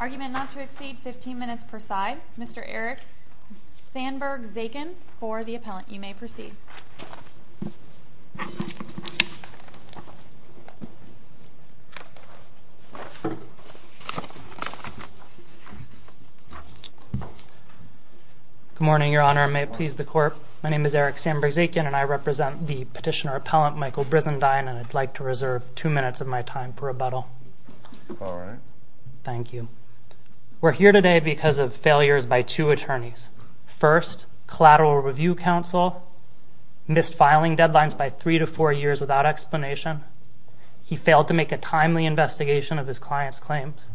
Argument not to exceed 15 minutes per side. Mr. Eric Sandberg-Zaikin for the appellant. You may proceed. Good morning, your honor. May it please the court, my name is Eric Sandberg-Zaikin and I represent the petitioner-appellant Michael Brizendine and I'd like to reserve two minutes of my time for rebuttal. All right. Thank you. We're here today because of failures by two attorneys. First, collateral review counsel missed filing deadlines by three to four years without explanation. He failed to make a timely investigation of his client's claims.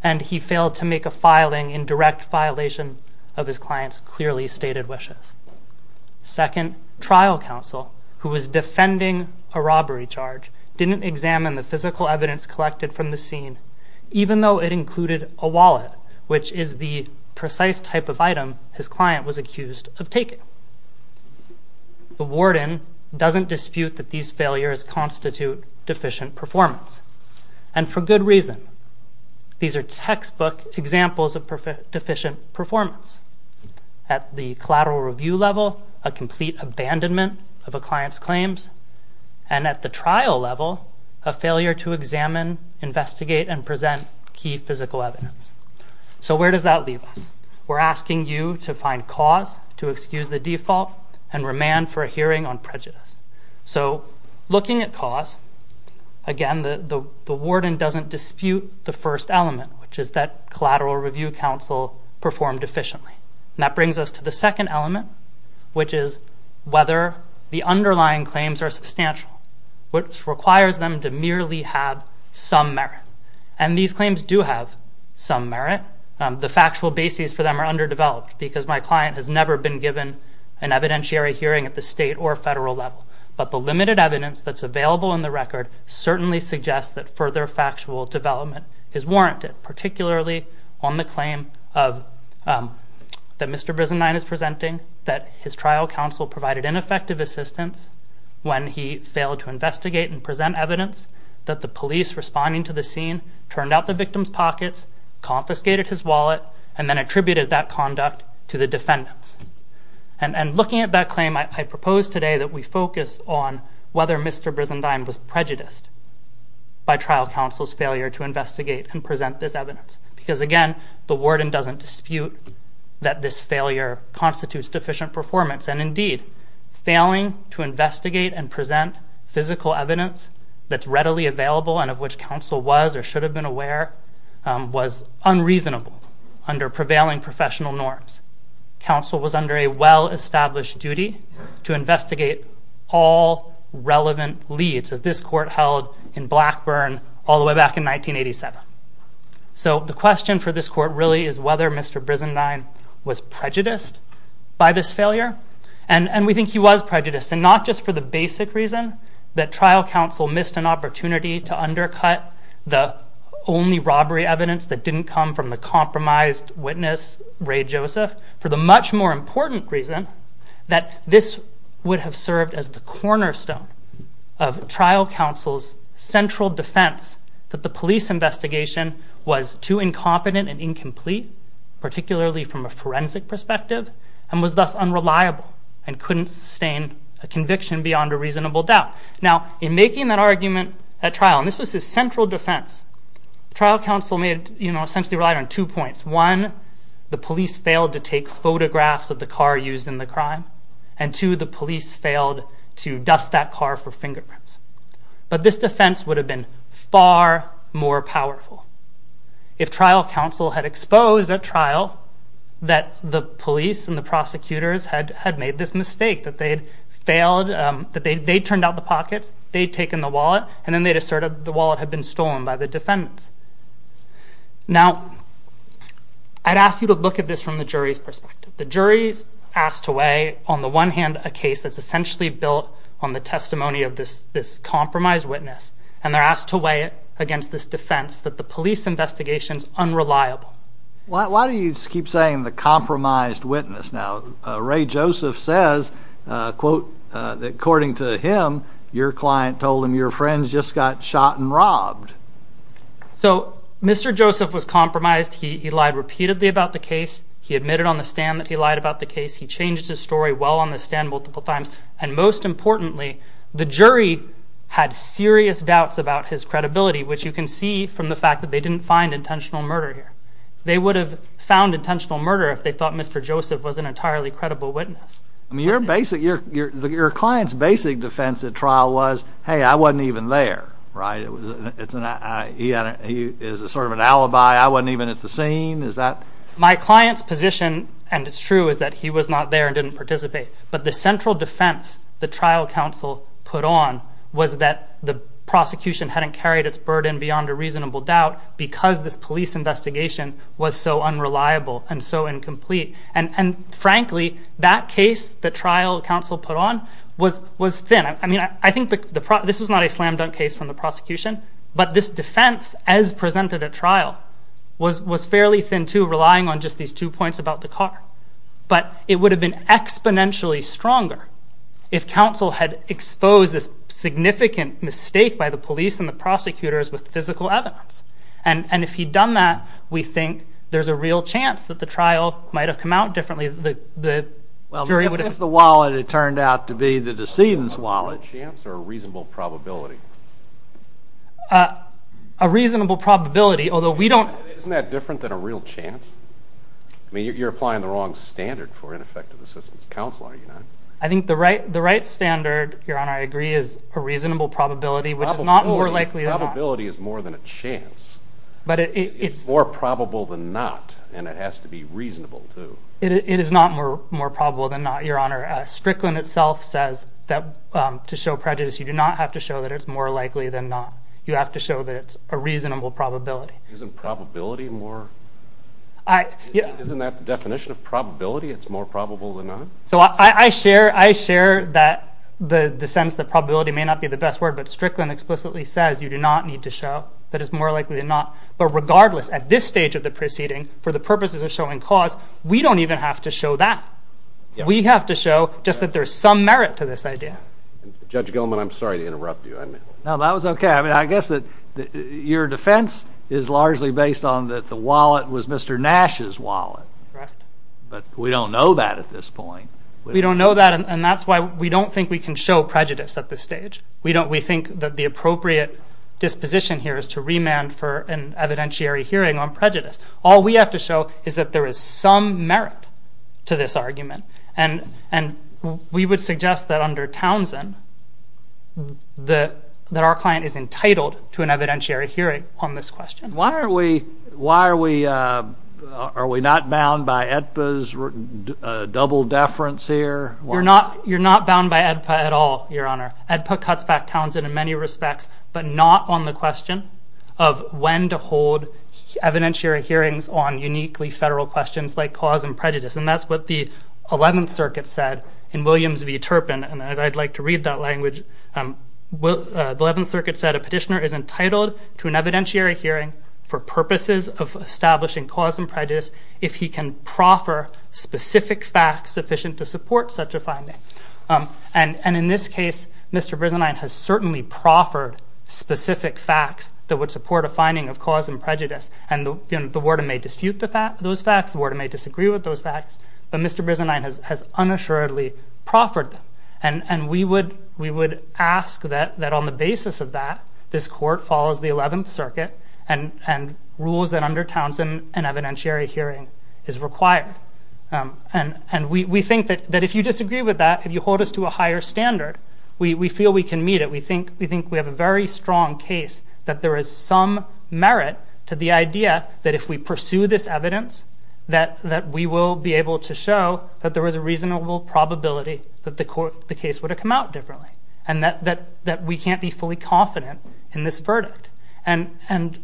And he failed to make a filing in direct violation of his client's clearly stated wishes. Second, trial counsel, who was defending a robbery charge, didn't examine the physical evidence collected from the scene, even though it included a wallet, which is the precise type of item his client was accused of taking. The warden doesn't dispute that these failures constitute deficient performance. And for good reason. These are textbook examples of deficient performance. At the collateral review level, a complete abandonment of a client's claims. And at the trial level, a failure to examine, investigate, and present key physical evidence. So where does that leave us? We're asking you to find cause to excuse the default and remand for a hearing on prejudice. So looking at cause, again, the warden doesn't dispute the first element, which is that collateral review counsel performed efficiently. And that brings us to the second element, which is whether the underlying claims are substantial, which requires them to merely have some merit. And these claims do have some merit. The factual bases for them are underdeveloped because my client has never been given an evidentiary hearing at the state or federal level. But the limited evidence that's available in the record certainly suggests that further factual development is warranted, particularly on the claim that Mr. Brisenine is presenting, that his trial counsel provided ineffective assistance when he failed to investigate and present evidence, that the police responding to the scene turned out the victim's pockets, confiscated his wallet, and then attributed that conduct to the defendants. And looking at that claim, I propose today that we focus on whether Mr. Brisenine was prejudiced by trial counsel's failure to investigate and present this evidence. Because, again, the warden doesn't dispute that this failure constitutes deficient performance. And, indeed, failing to investigate and present physical evidence that's readily available and of which counsel was or should have been aware was unreasonable under prevailing professional norms. Counsel was under a well-established duty to investigate all relevant leads, as this court held in Blackburn all the way back in 1987. So the question for this court really is whether Mr. Brisenine was prejudiced by this failure. And we think he was prejudiced, and not just for the basic reason that trial counsel missed an opportunity to undercut the only robbery evidence that didn't come from the compromised witness, Ray Joseph. For the much more important reason that this would have served as the cornerstone of trial counsel's central defense that the police investigation was too incompetent and incomplete, particularly from a forensic perspective, and was thus unreliable and couldn't sustain a conviction beyond a reasonable doubt. Now, in making that argument at trial, and this was his central defense, trial counsel essentially relied on two points. One, the police failed to take photographs of the car used in the crime. And, two, the police failed to dust that car for fingerprints. But this defense would have been far more powerful if trial counsel had exposed at trial that the police and the prosecutors had made this mistake, that they'd failed, that they'd turned out the pockets, they'd taken the wallet, and then they'd asserted the wallet had been stolen by the defendants. Now, I'd ask you to look at this from the jury's perspective. The jury's asked to weigh, on the one hand, a case that's essentially built on the testimony of this compromised witness, and they're asked to weigh it against this defense that the police investigation's unreliable. Why do you keep saying the compromised witness? Now, Ray Joseph says, quote, that according to him, your client told him your friends just got shot and robbed. So, Mr. Joseph was compromised. He lied repeatedly about the case. He admitted on the stand that he lied about the case. He changed his story well on the stand multiple times. And most importantly, the jury had serious doubts about his credibility, which you can see from the fact that they didn't find intentional murder here. They would have found intentional murder if they thought Mr. Joseph was an entirely credible witness. I mean, your client's basic defense at trial was, hey, I wasn't even there, right? He is sort of an alibi. I wasn't even at the scene. My client's position, and it's true, is that he was not there and didn't participate. But the central defense the trial counsel put on was that the prosecution hadn't carried its burden beyond a reasonable doubt because this police investigation was so unreliable and so incomplete. And frankly, that case the trial counsel put on was thin. I mean, I think this was not a slam-dunk case from the prosecution, but this defense as presented at trial was fairly thin, too, relying on just these two points about the car. But it would have been exponentially stronger if counsel had exposed this significant mistake by the police and the prosecutors with physical evidence. And if he'd done that, we think there's a real chance that the trial might have come out differently. If the wallet had turned out to be the decedent's wallet. A chance or a reasonable probability? A reasonable probability, although we don't... Isn't that different than a real chance? I mean, you're applying the wrong standard for ineffective assistance of counsel, are you not? I think the right standard, Your Honor, I agree, is a reasonable probability, which is not more likely than not. Probability is more than a chance. It's more probable than not, and it has to be reasonable, too. It is not more probable than not, Your Honor. Strickland itself says that to show prejudice you do not have to show that it's more likely than not. You have to show that it's a reasonable probability. Isn't probability more... Isn't that the definition of probability, it's more probable than not? So I share the sense that probability may not be the best word, but Strickland explicitly says you do not need to show that it's more likely than not. But regardless, at this stage of the proceeding, for the purposes of showing cause, we don't even have to show that. We have to show just that there's some merit to this idea. Judge Gilman, I'm sorry to interrupt you. No, that was okay. I mean, I guess that your defense is largely based on that the wallet was Mr. Nash's wallet. Correct. But we don't know that at this point. We don't know that, and that's why we don't think we can show prejudice at this stage. We think that the appropriate disposition here is to remand for an evidentiary hearing on prejudice. All we have to show is that there is some merit to this argument, and we would suggest that under Townsend that our client is entitled to an evidentiary hearing on this question. Why are we not bound by AEDPA's double deference here? You're not bound by AEDPA at all, Your Honor. AEDPA cuts back Townsend in many respects, but not on the question of when to hold evidentiary hearings on uniquely federal questions like cause and prejudice, and that's what the 11th Circuit said in Williams v. Turpin, and I'd like to read that language. The 11th Circuit said a petitioner is entitled to an evidentiary hearing for purposes of establishing cause and prejudice if he can proffer specific facts sufficient to support such a finding. And in this case, Mr. Brisenine has certainly proffered specific facts that would support a finding of cause and prejudice, and the warden may dispute those facts, the warden may disagree with those facts, but Mr. Brisenine has unassuredly proffered them, and we would ask that on the basis of that, this Court follows the 11th Circuit and rules that under Townsend an evidentiary hearing is required. And we think that if you disagree with that, if you hold us to a higher standard, we feel we can meet it. We think we have a very strong case that there is some merit to the idea that if we pursue this evidence, that we will be able to show that there was a reasonable probability that the case would have come out differently, and that we can't be fully confident in this verdict. And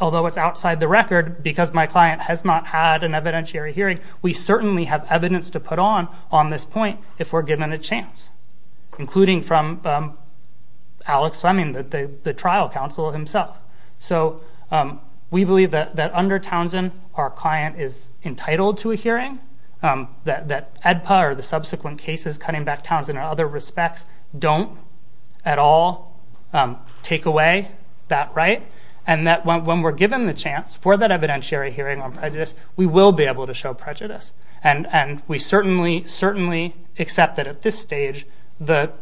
although it's outside the record, because my client has not had an evidentiary hearing, we certainly have evidence to put on on this point if we're given a chance, including from Alex Fleming, the trial counsel himself. So we believe that under Townsend our client is entitled to a hearing, that EDPA or the subsequent cases cutting back Townsend in other respects don't at all take away that right, and that when we're given the chance for that evidentiary hearing on prejudice, we will be able to show prejudice. And we certainly accept that at this stage the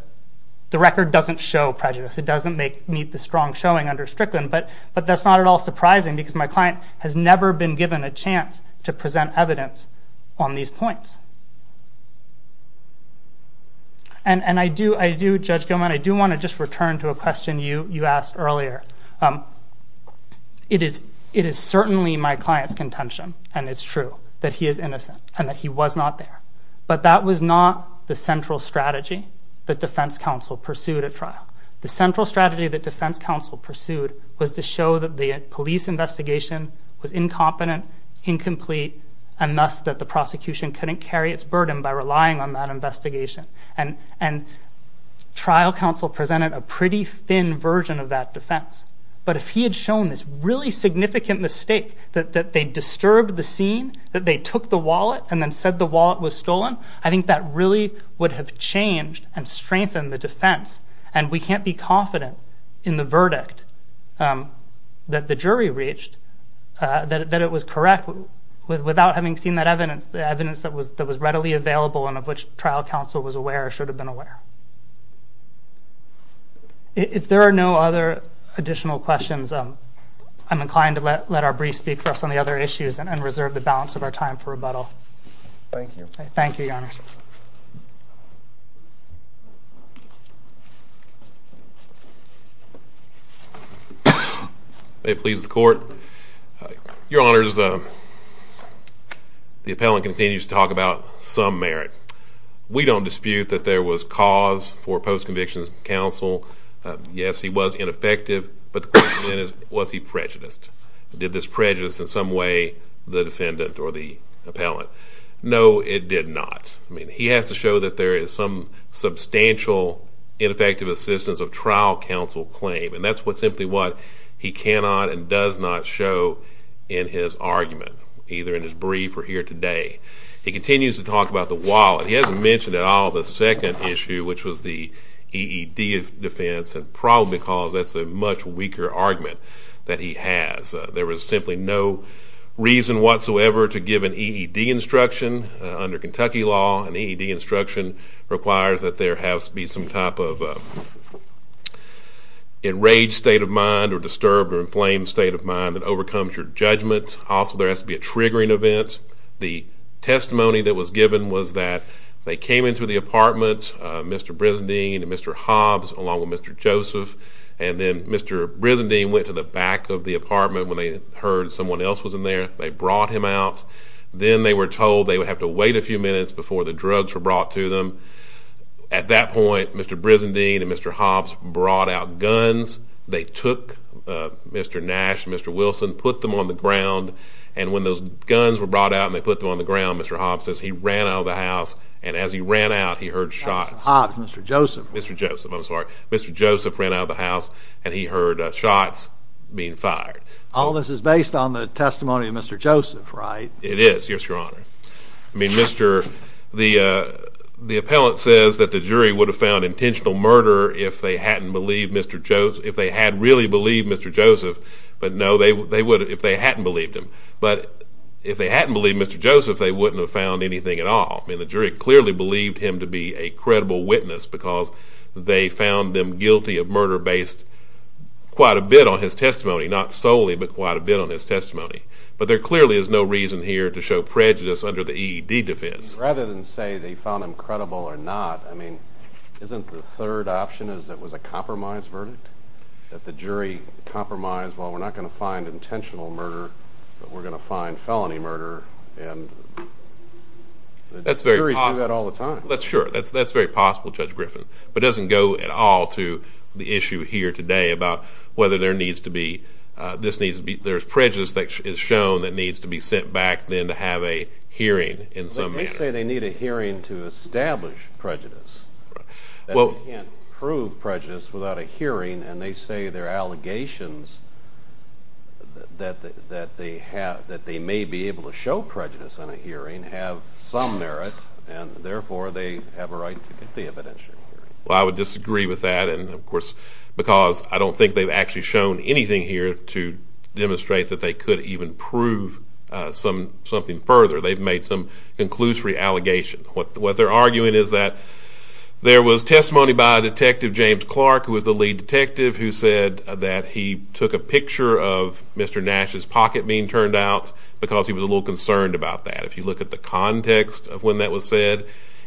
record doesn't show prejudice. It doesn't meet the strong showing under Strickland, but that's not at all surprising, because my client has never been given a chance to present evidence on these points. And I do, Judge Gilman, I do want to just return to a question you asked earlier. It is certainly my client's contention, and it's true, that he is innocent and that he was not there. But that was not the central strategy that defense counsel pursued at trial. The central strategy that defense counsel pursued was to show that the police investigation was incompetent, incomplete, and thus that the prosecution couldn't carry its burden by relying on that investigation. And trial counsel presented a pretty thin version of that defense. But if he had shown this really significant mistake, that they disturbed the scene, that they took the wallet and then said the wallet was stolen, and we can't be confident in the verdict that the jury reached that it was correct without having seen that evidence, the evidence that was readily available and of which trial counsel was aware or should have been aware. If there are no other additional questions, I'm inclined to let our briefs speak for us on the other issues and reserve the balance of our time for rebuttal. Thank you. Thank you, Your Honor. It pleases the Court. Your Honors, the appellant continues to talk about some merit. We don't dispute that there was cause for post-conviction counsel. Yes, he was ineffective, but the question then is, was he prejudiced? Did this prejudice in some way the defendant or the appellant? No, it did not. I mean, he has to show that there is some substantial ineffective assistance of trial counsel claim, and that's simply what he cannot and does not show in his argument, either in his brief or here today. He continues to talk about the wallet. He hasn't mentioned at all the second issue, which was the EED defense, and probably because that's a much weaker argument that he has. There was simply no reason whatsoever to give an EED instruction under Kentucky law. An EED instruction requires that there has to be some type of enraged state of mind or disturbed or inflamed state of mind that overcomes your judgment. Also, there has to be a triggering event. The testimony that was given was that they came into the apartment, Mr. Brizendine and Mr. Hobbs along with Mr. Joseph, and then Mr. Brizendine went to the back of the apartment when they heard someone else was in there. They brought him out. Then they were told they would have to wait a few minutes before the drugs were brought to them. At that point, Mr. Brizendine and Mr. Hobbs brought out guns. They took Mr. Nash and Mr. Wilson, put them on the ground, and when those guns were brought out and they put them on the ground, Mr. Hobbs says he ran out of the house, and as he ran out, he heard shots. Mr. Hobbs, Mr. Joseph. Mr. Joseph, I'm sorry. Mr. Joseph ran out of the house, and he heard shots being fired. All this is based on the testimony of Mr. Joseph, right? It is, yes, Your Honor. I mean, the appellant says that the jury would have found intentional murder if they hadn't really believed Mr. Joseph, but no, they would have if they hadn't believed him. But if they hadn't believed Mr. Joseph, they wouldn't have found anything at all. I mean, the jury clearly believed him to be a credible witness because they found them guilty of murder based quite a bit on his testimony, not solely but quite a bit on his testimony. But there clearly is no reason here to show prejudice under the EED defense. Rather than say they found him credible or not, I mean, isn't the third option that it was a compromise verdict, that the jury compromised, well, we're not going to find intentional murder, but we're going to find felony murder, and the jury does that all the time. That's very possible, Judge Griffin, but it doesn't go at all to the issue here today about whether there needs to be prejudice that is shown that needs to be sent back than to have a hearing in some manner. But they say they need a hearing to establish prejudice. They can't prove prejudice without a hearing, and they say their allegations that they may be able to show prejudice in a hearing have some merit, and therefore they have a right to get the evidentiary hearing. Well, I would disagree with that, and, of course, because I don't think they've actually shown anything here to demonstrate that they could even prove something further. They've made some conclusory allegation. What they're arguing is that there was testimony by a detective, James Clark, who was the lead detective, who said that he took a picture of Mr. Nash's pocket being turned out because he was a little concerned about that. If you look at the context of when that was said,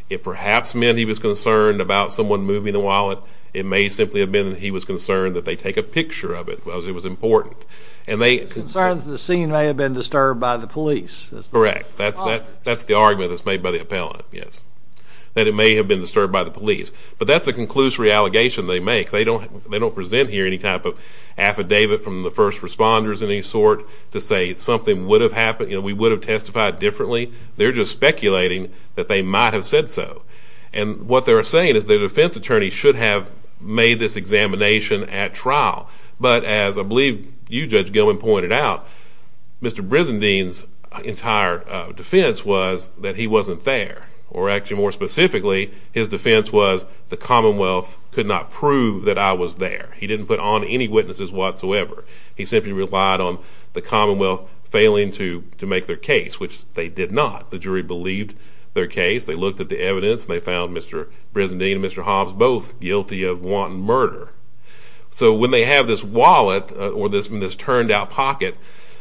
it perhaps meant he was concerned about someone moving the wallet. It may simply have been that he was concerned that they take a picture of it because it was important. Concerned that the scene may have been disturbed by the police. That's correct. That's the argument that's made by the appellant, yes, that it may have been disturbed by the police. But that's a conclusory allegation they make. They don't present here any type of affidavit from the first responders of any sort to say something would have happened, you know, we would have testified differently. They're just speculating that they might have said so. And what they're saying is the defense attorney should have made this examination at trial. But as I believe you, Judge Gilman, pointed out, Mr. Brizendine's entire defense was that he wasn't there. Or actually, more specifically, his defense was the Commonwealth could not prove that I was there. He didn't put on any witnesses whatsoever. He simply relied on the Commonwealth failing to make their case, which they did not. The jury believed their case. They looked at the evidence and they found Mr. Brizendine and Mr. Hobbs both guilty of wanton murder. So when they have this wallet or this turned-out pocket,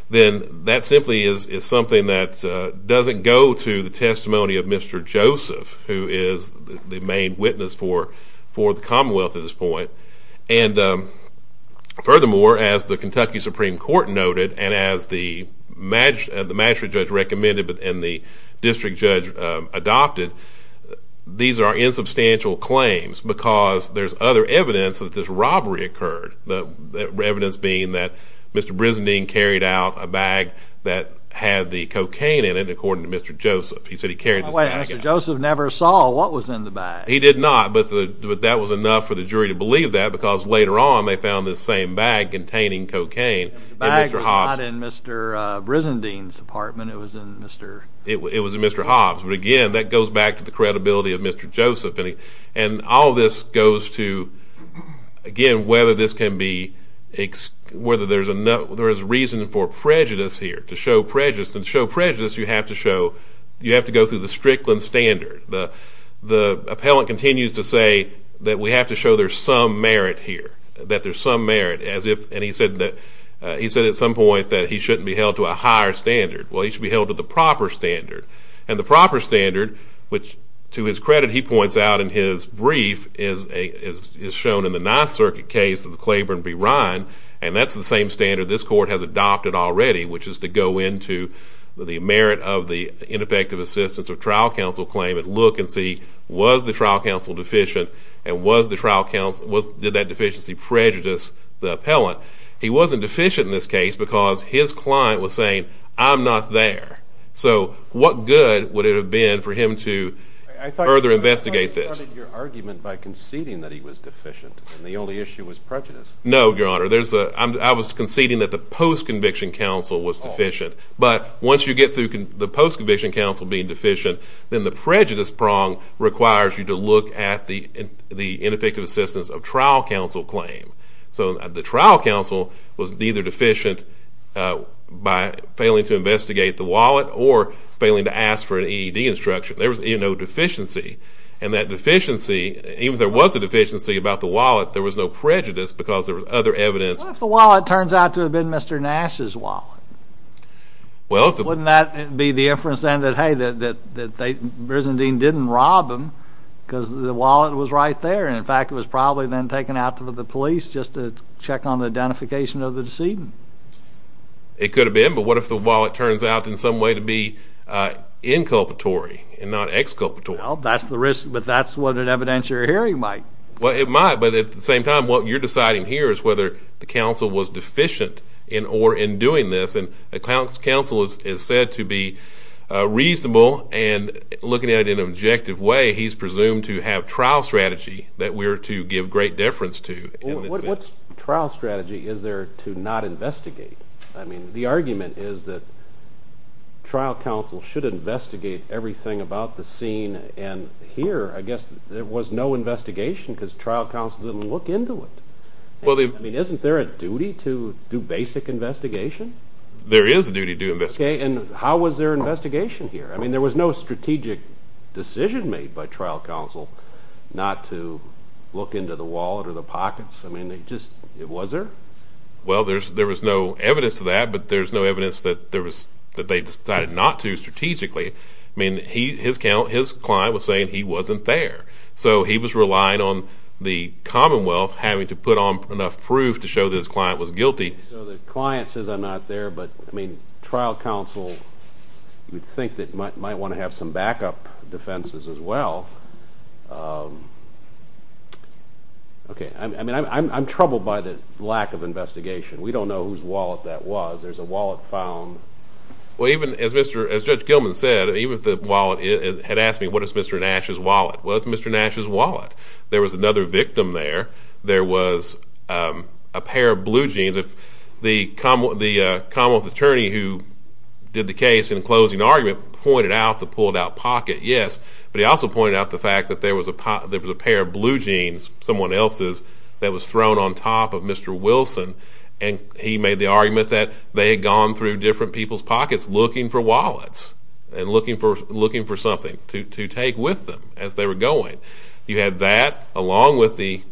then that simply is something that doesn't go to the testimony of Mr. Joseph, who is the main witness for the Commonwealth at this point. And furthermore, as the Kentucky Supreme Court noted and as the magistrate judge recommended and the district judge adopted, these are insubstantial claims because there's other evidence that this robbery occurred, evidence being that Mr. Brizendine carried out a bag that had the cocaine in it, according to Mr. Joseph. He said he carried this bag out. Wait a minute. Mr. Joseph never saw what was in the bag. He did not, but that was enough for the jury to believe that because later on they found this same bag containing cocaine in Mr. Hobbs. The bag was not in Mr. Brizendine's apartment. It was in Mr. It was in Mr. Hobbs, but again, that goes back to the credibility of Mr. Joseph. And all this goes to, again, whether there is reason for prejudice here, to show prejudice. To show prejudice, you have to go through the Strickland Standard. The appellant continues to say that we have to show there's some merit here, that there's some merit. And he said at some point that he shouldn't be held to a higher standard. Well, he should be held to the proper standard. And the proper standard, which to his credit he points out in his brief, is shown in the Ninth Circuit case of the Claiborne v. Ryan, and that's the same standard this court has adopted already, which is to go into the merit of the ineffective assistance of trial counsel claim and look and see was the trial counsel deficient and did that deficiency prejudice the appellant. He wasn't deficient in this case because his client was saying, I'm not there. So what good would it have been for him to further investigate this? I thought you started your argument by conceding that he was deficient and the only issue was prejudice. No, Your Honor. I was conceding that the post-conviction counsel was deficient. But once you get through the post-conviction counsel being deficient, then the prejudice prong requires you to look at the ineffective assistance of trial counsel claim. So the trial counsel was neither deficient by failing to investigate the wallet or failing to ask for an EED instruction. There was no deficiency. And that deficiency, even if there was a deficiency about the wallet, there was no prejudice because there was other evidence. What if the wallet turns out to have been Mr. Nash's wallet? Wouldn't that be the inference then that, hey, that Brizendine didn't rob him because the wallet was right there, and, in fact, it was probably then taken out to the police just to check on the identification of the decedent? It could have been. But what if the wallet turns out in some way to be inculpatory and not exculpatory? Well, that's the risk, but that's what an evidentiary hearing might. Well, it might. But at the same time, what you're deciding here is whether the counsel was deficient in or in doing this. And the counsel is said to be reasonable, and looking at it in an objective way, he's presumed to have trial strategy that we're to give great deference to. Well, what trial strategy is there to not investigate? I mean, the argument is that trial counsel should investigate everything about the scene, and here I guess there was no investigation because trial counsel didn't look into it. I mean, isn't there a duty to do basic investigation? There is a duty to investigate. Okay, and how was there investigation here? I mean, there was no strategic decision made by trial counsel not to look into the wallet or the pockets. I mean, just, was there? Well, there was no evidence to that, but there's no evidence that they decided not to strategically. I mean, his client was saying he wasn't there. So he was relying on the Commonwealth having to put on enough proof to show that his client was guilty. Okay, so the client says I'm not there, but, I mean, trial counsel, you'd think, might want to have some backup defenses as well. I mean, I'm troubled by the lack of investigation. We don't know whose wallet that was. There's a wallet found. Well, even as Judge Gilman said, even if the wallet had asked me, what is Mr. Nash's wallet? Well, it's Mr. Nash's wallet. There was another victim there. There was a pair of blue jeans. The Commonwealth attorney who did the case in closing argument pointed out the pulled-out pocket, yes, but he also pointed out the fact that there was a pair of blue jeans, someone else's, that was thrown on top of Mr. Wilson, and he made the argument that they had gone through different people's pockets looking for wallets and looking for something to take with them as they were going. You had that along with the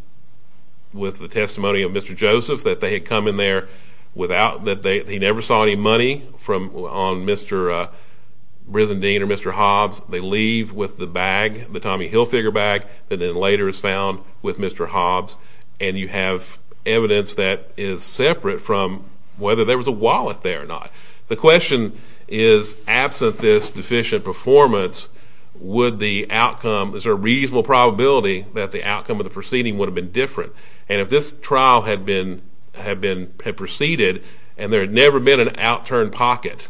testimony of Mr. Joseph that they had come in there without, that he never saw any money on Mr. Brizendine or Mr. Hobbs. They leave with the bag, the Tommy Hilfiger bag that then later is found with Mr. Hobbs, and you have evidence that is separate from whether there was a wallet there or not. The question is, absent this deficient performance, would the outcome, is there a reasonable probability that the outcome of the proceeding would have been different? And if this trial had proceeded and there had never been an outturned pocket,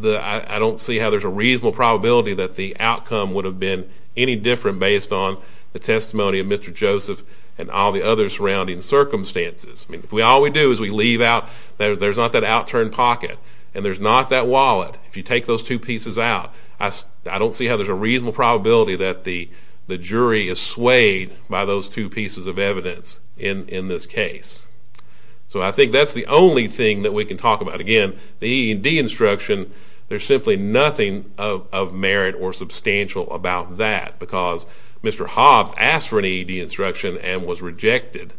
I don't see how there's a reasonable probability that the outcome would have been any different based on the testimony of Mr. Joseph and all the other surrounding circumstances. All we do is we leave out, there's not that outturned pocket, and there's not that wallet. If you take those two pieces out, I don't see how there's a reasonable probability that the jury is swayed by those two pieces of evidence in this case. So I think that's the only thing that we can talk about. Again, the E&D instruction, there's simply nothing of merit or substantial about that because Mr. Hobbs asked for an E&D instruction and was rejected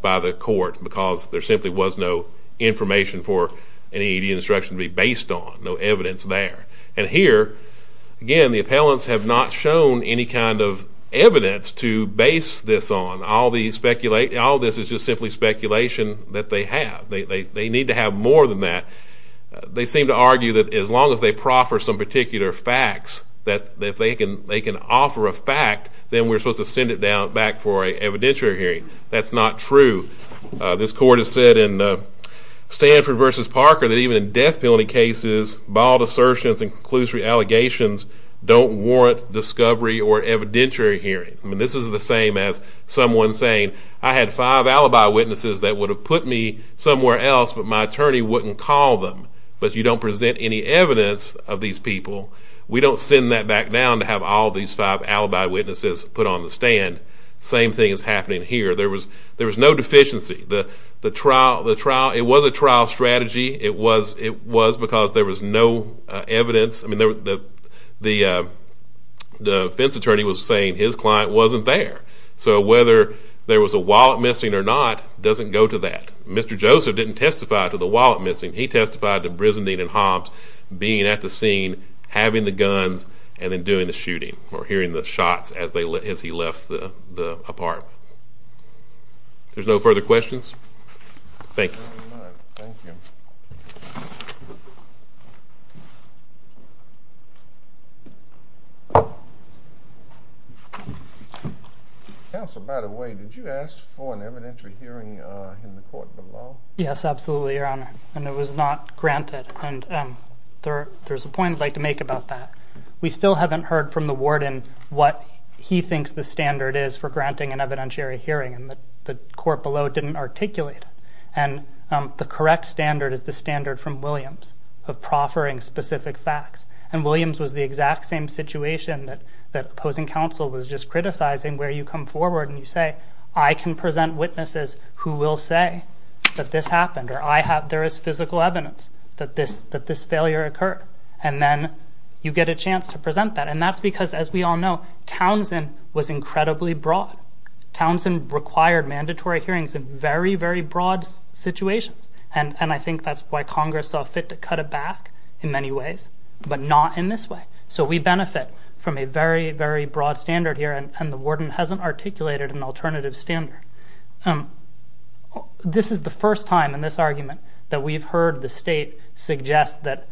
by the court because there simply was no information for an E&D instruction to be based on, no evidence there. And here, again, the appellants have not shown any kind of evidence to base this on. All this is just simply speculation that they have. They need to have more than that. They seem to argue that as long as they proffer some particular facts, that if they can offer a fact, then we're supposed to send it back for an evidentiary hearing. That's not true. This court has said in Stanford v. Parker that even in death penalty cases, bald assertions and conclusory allegations don't warrant discovery or evidentiary hearing. This is the same as someone saying, I had five alibi witnesses that would have put me somewhere else, but my attorney wouldn't call them. But you don't present any evidence of these people. We don't send that back down to have all these five alibi witnesses put on the stand. Same thing is happening here. There was no deficiency. It was a trial strategy. It was because there was no evidence. The defense attorney was saying his client wasn't there. So whether there was a wallet missing or not doesn't go to that. Mr. Joseph didn't testify to the wallet missing. He testified to Brizendine and Hobbs being at the scene, having the guns, and then doing the shooting or hearing the shots as he left the apartment. There's no further questions? Thank you. Thank you very much. Thank you. Counsel, by the way, did you ask for an evidentiary hearing in the court below? Yes, absolutely, Your Honor, and it was not granted. There's a point I'd like to make about that. We still haven't heard from the warden what he thinks the standard is for granting an evidentiary hearing, and the court below didn't articulate it. And the correct standard is the standard from Williams of proffering specific facts, and Williams was the exact same situation that opposing counsel was just criticizing where you come forward and you say, I can present witnesses who will say that this happened or there is physical evidence that this failure occurred, and then you get a chance to present that. And that's because, as we all know, Townsend was incredibly broad. Townsend required mandatory hearings in very, very broad situations, and I think that's why Congress saw fit to cut it back in many ways, but not in this way. So we benefit from a very, very broad standard here, and the warden hasn't articulated an alternative standard. This is the first time in this argument that we've heard the state suggest that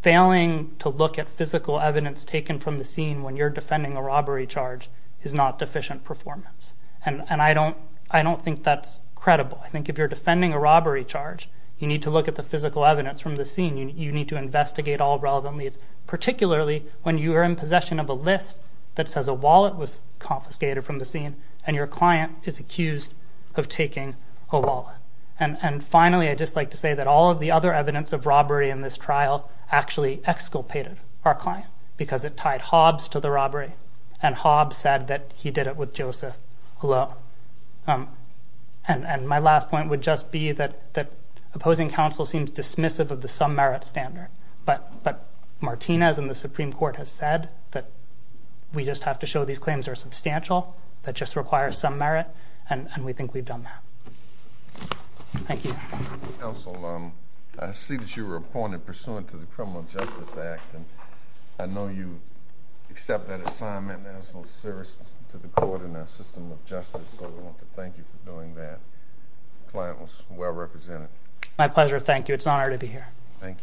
failing to look at physical evidence taken from the scene when you're defending a robbery charge is not deficient performance, and I don't think that's credible. I think if you're defending a robbery charge, you need to look at the physical evidence from the scene. You need to investigate all relevant leads, particularly when you are in possession of a list that says a wallet was confiscated from the scene and your client is accused of taking a wallet. And finally, I'd just like to say that all of the other evidence of robbery in this trial actually exculpated our client because it tied Hobbs to the robbery, and Hobbs said that he did it with Joseph Hullo. And my last point would just be that opposing counsel seems dismissive of the some merit standard, but Martinez and the Supreme Court have said that we just have to show these claims are substantial, that just require some merit, and we think we've done that. Thank you. Counsel, I see that you were appointed pursuant to the Criminal Justice Act, and I know you accept that assignment and are so serious to the court and our system of justice, so I want to thank you for doing that. The client was well represented. My pleasure. Thank you. It's an honor to be here. Thank you.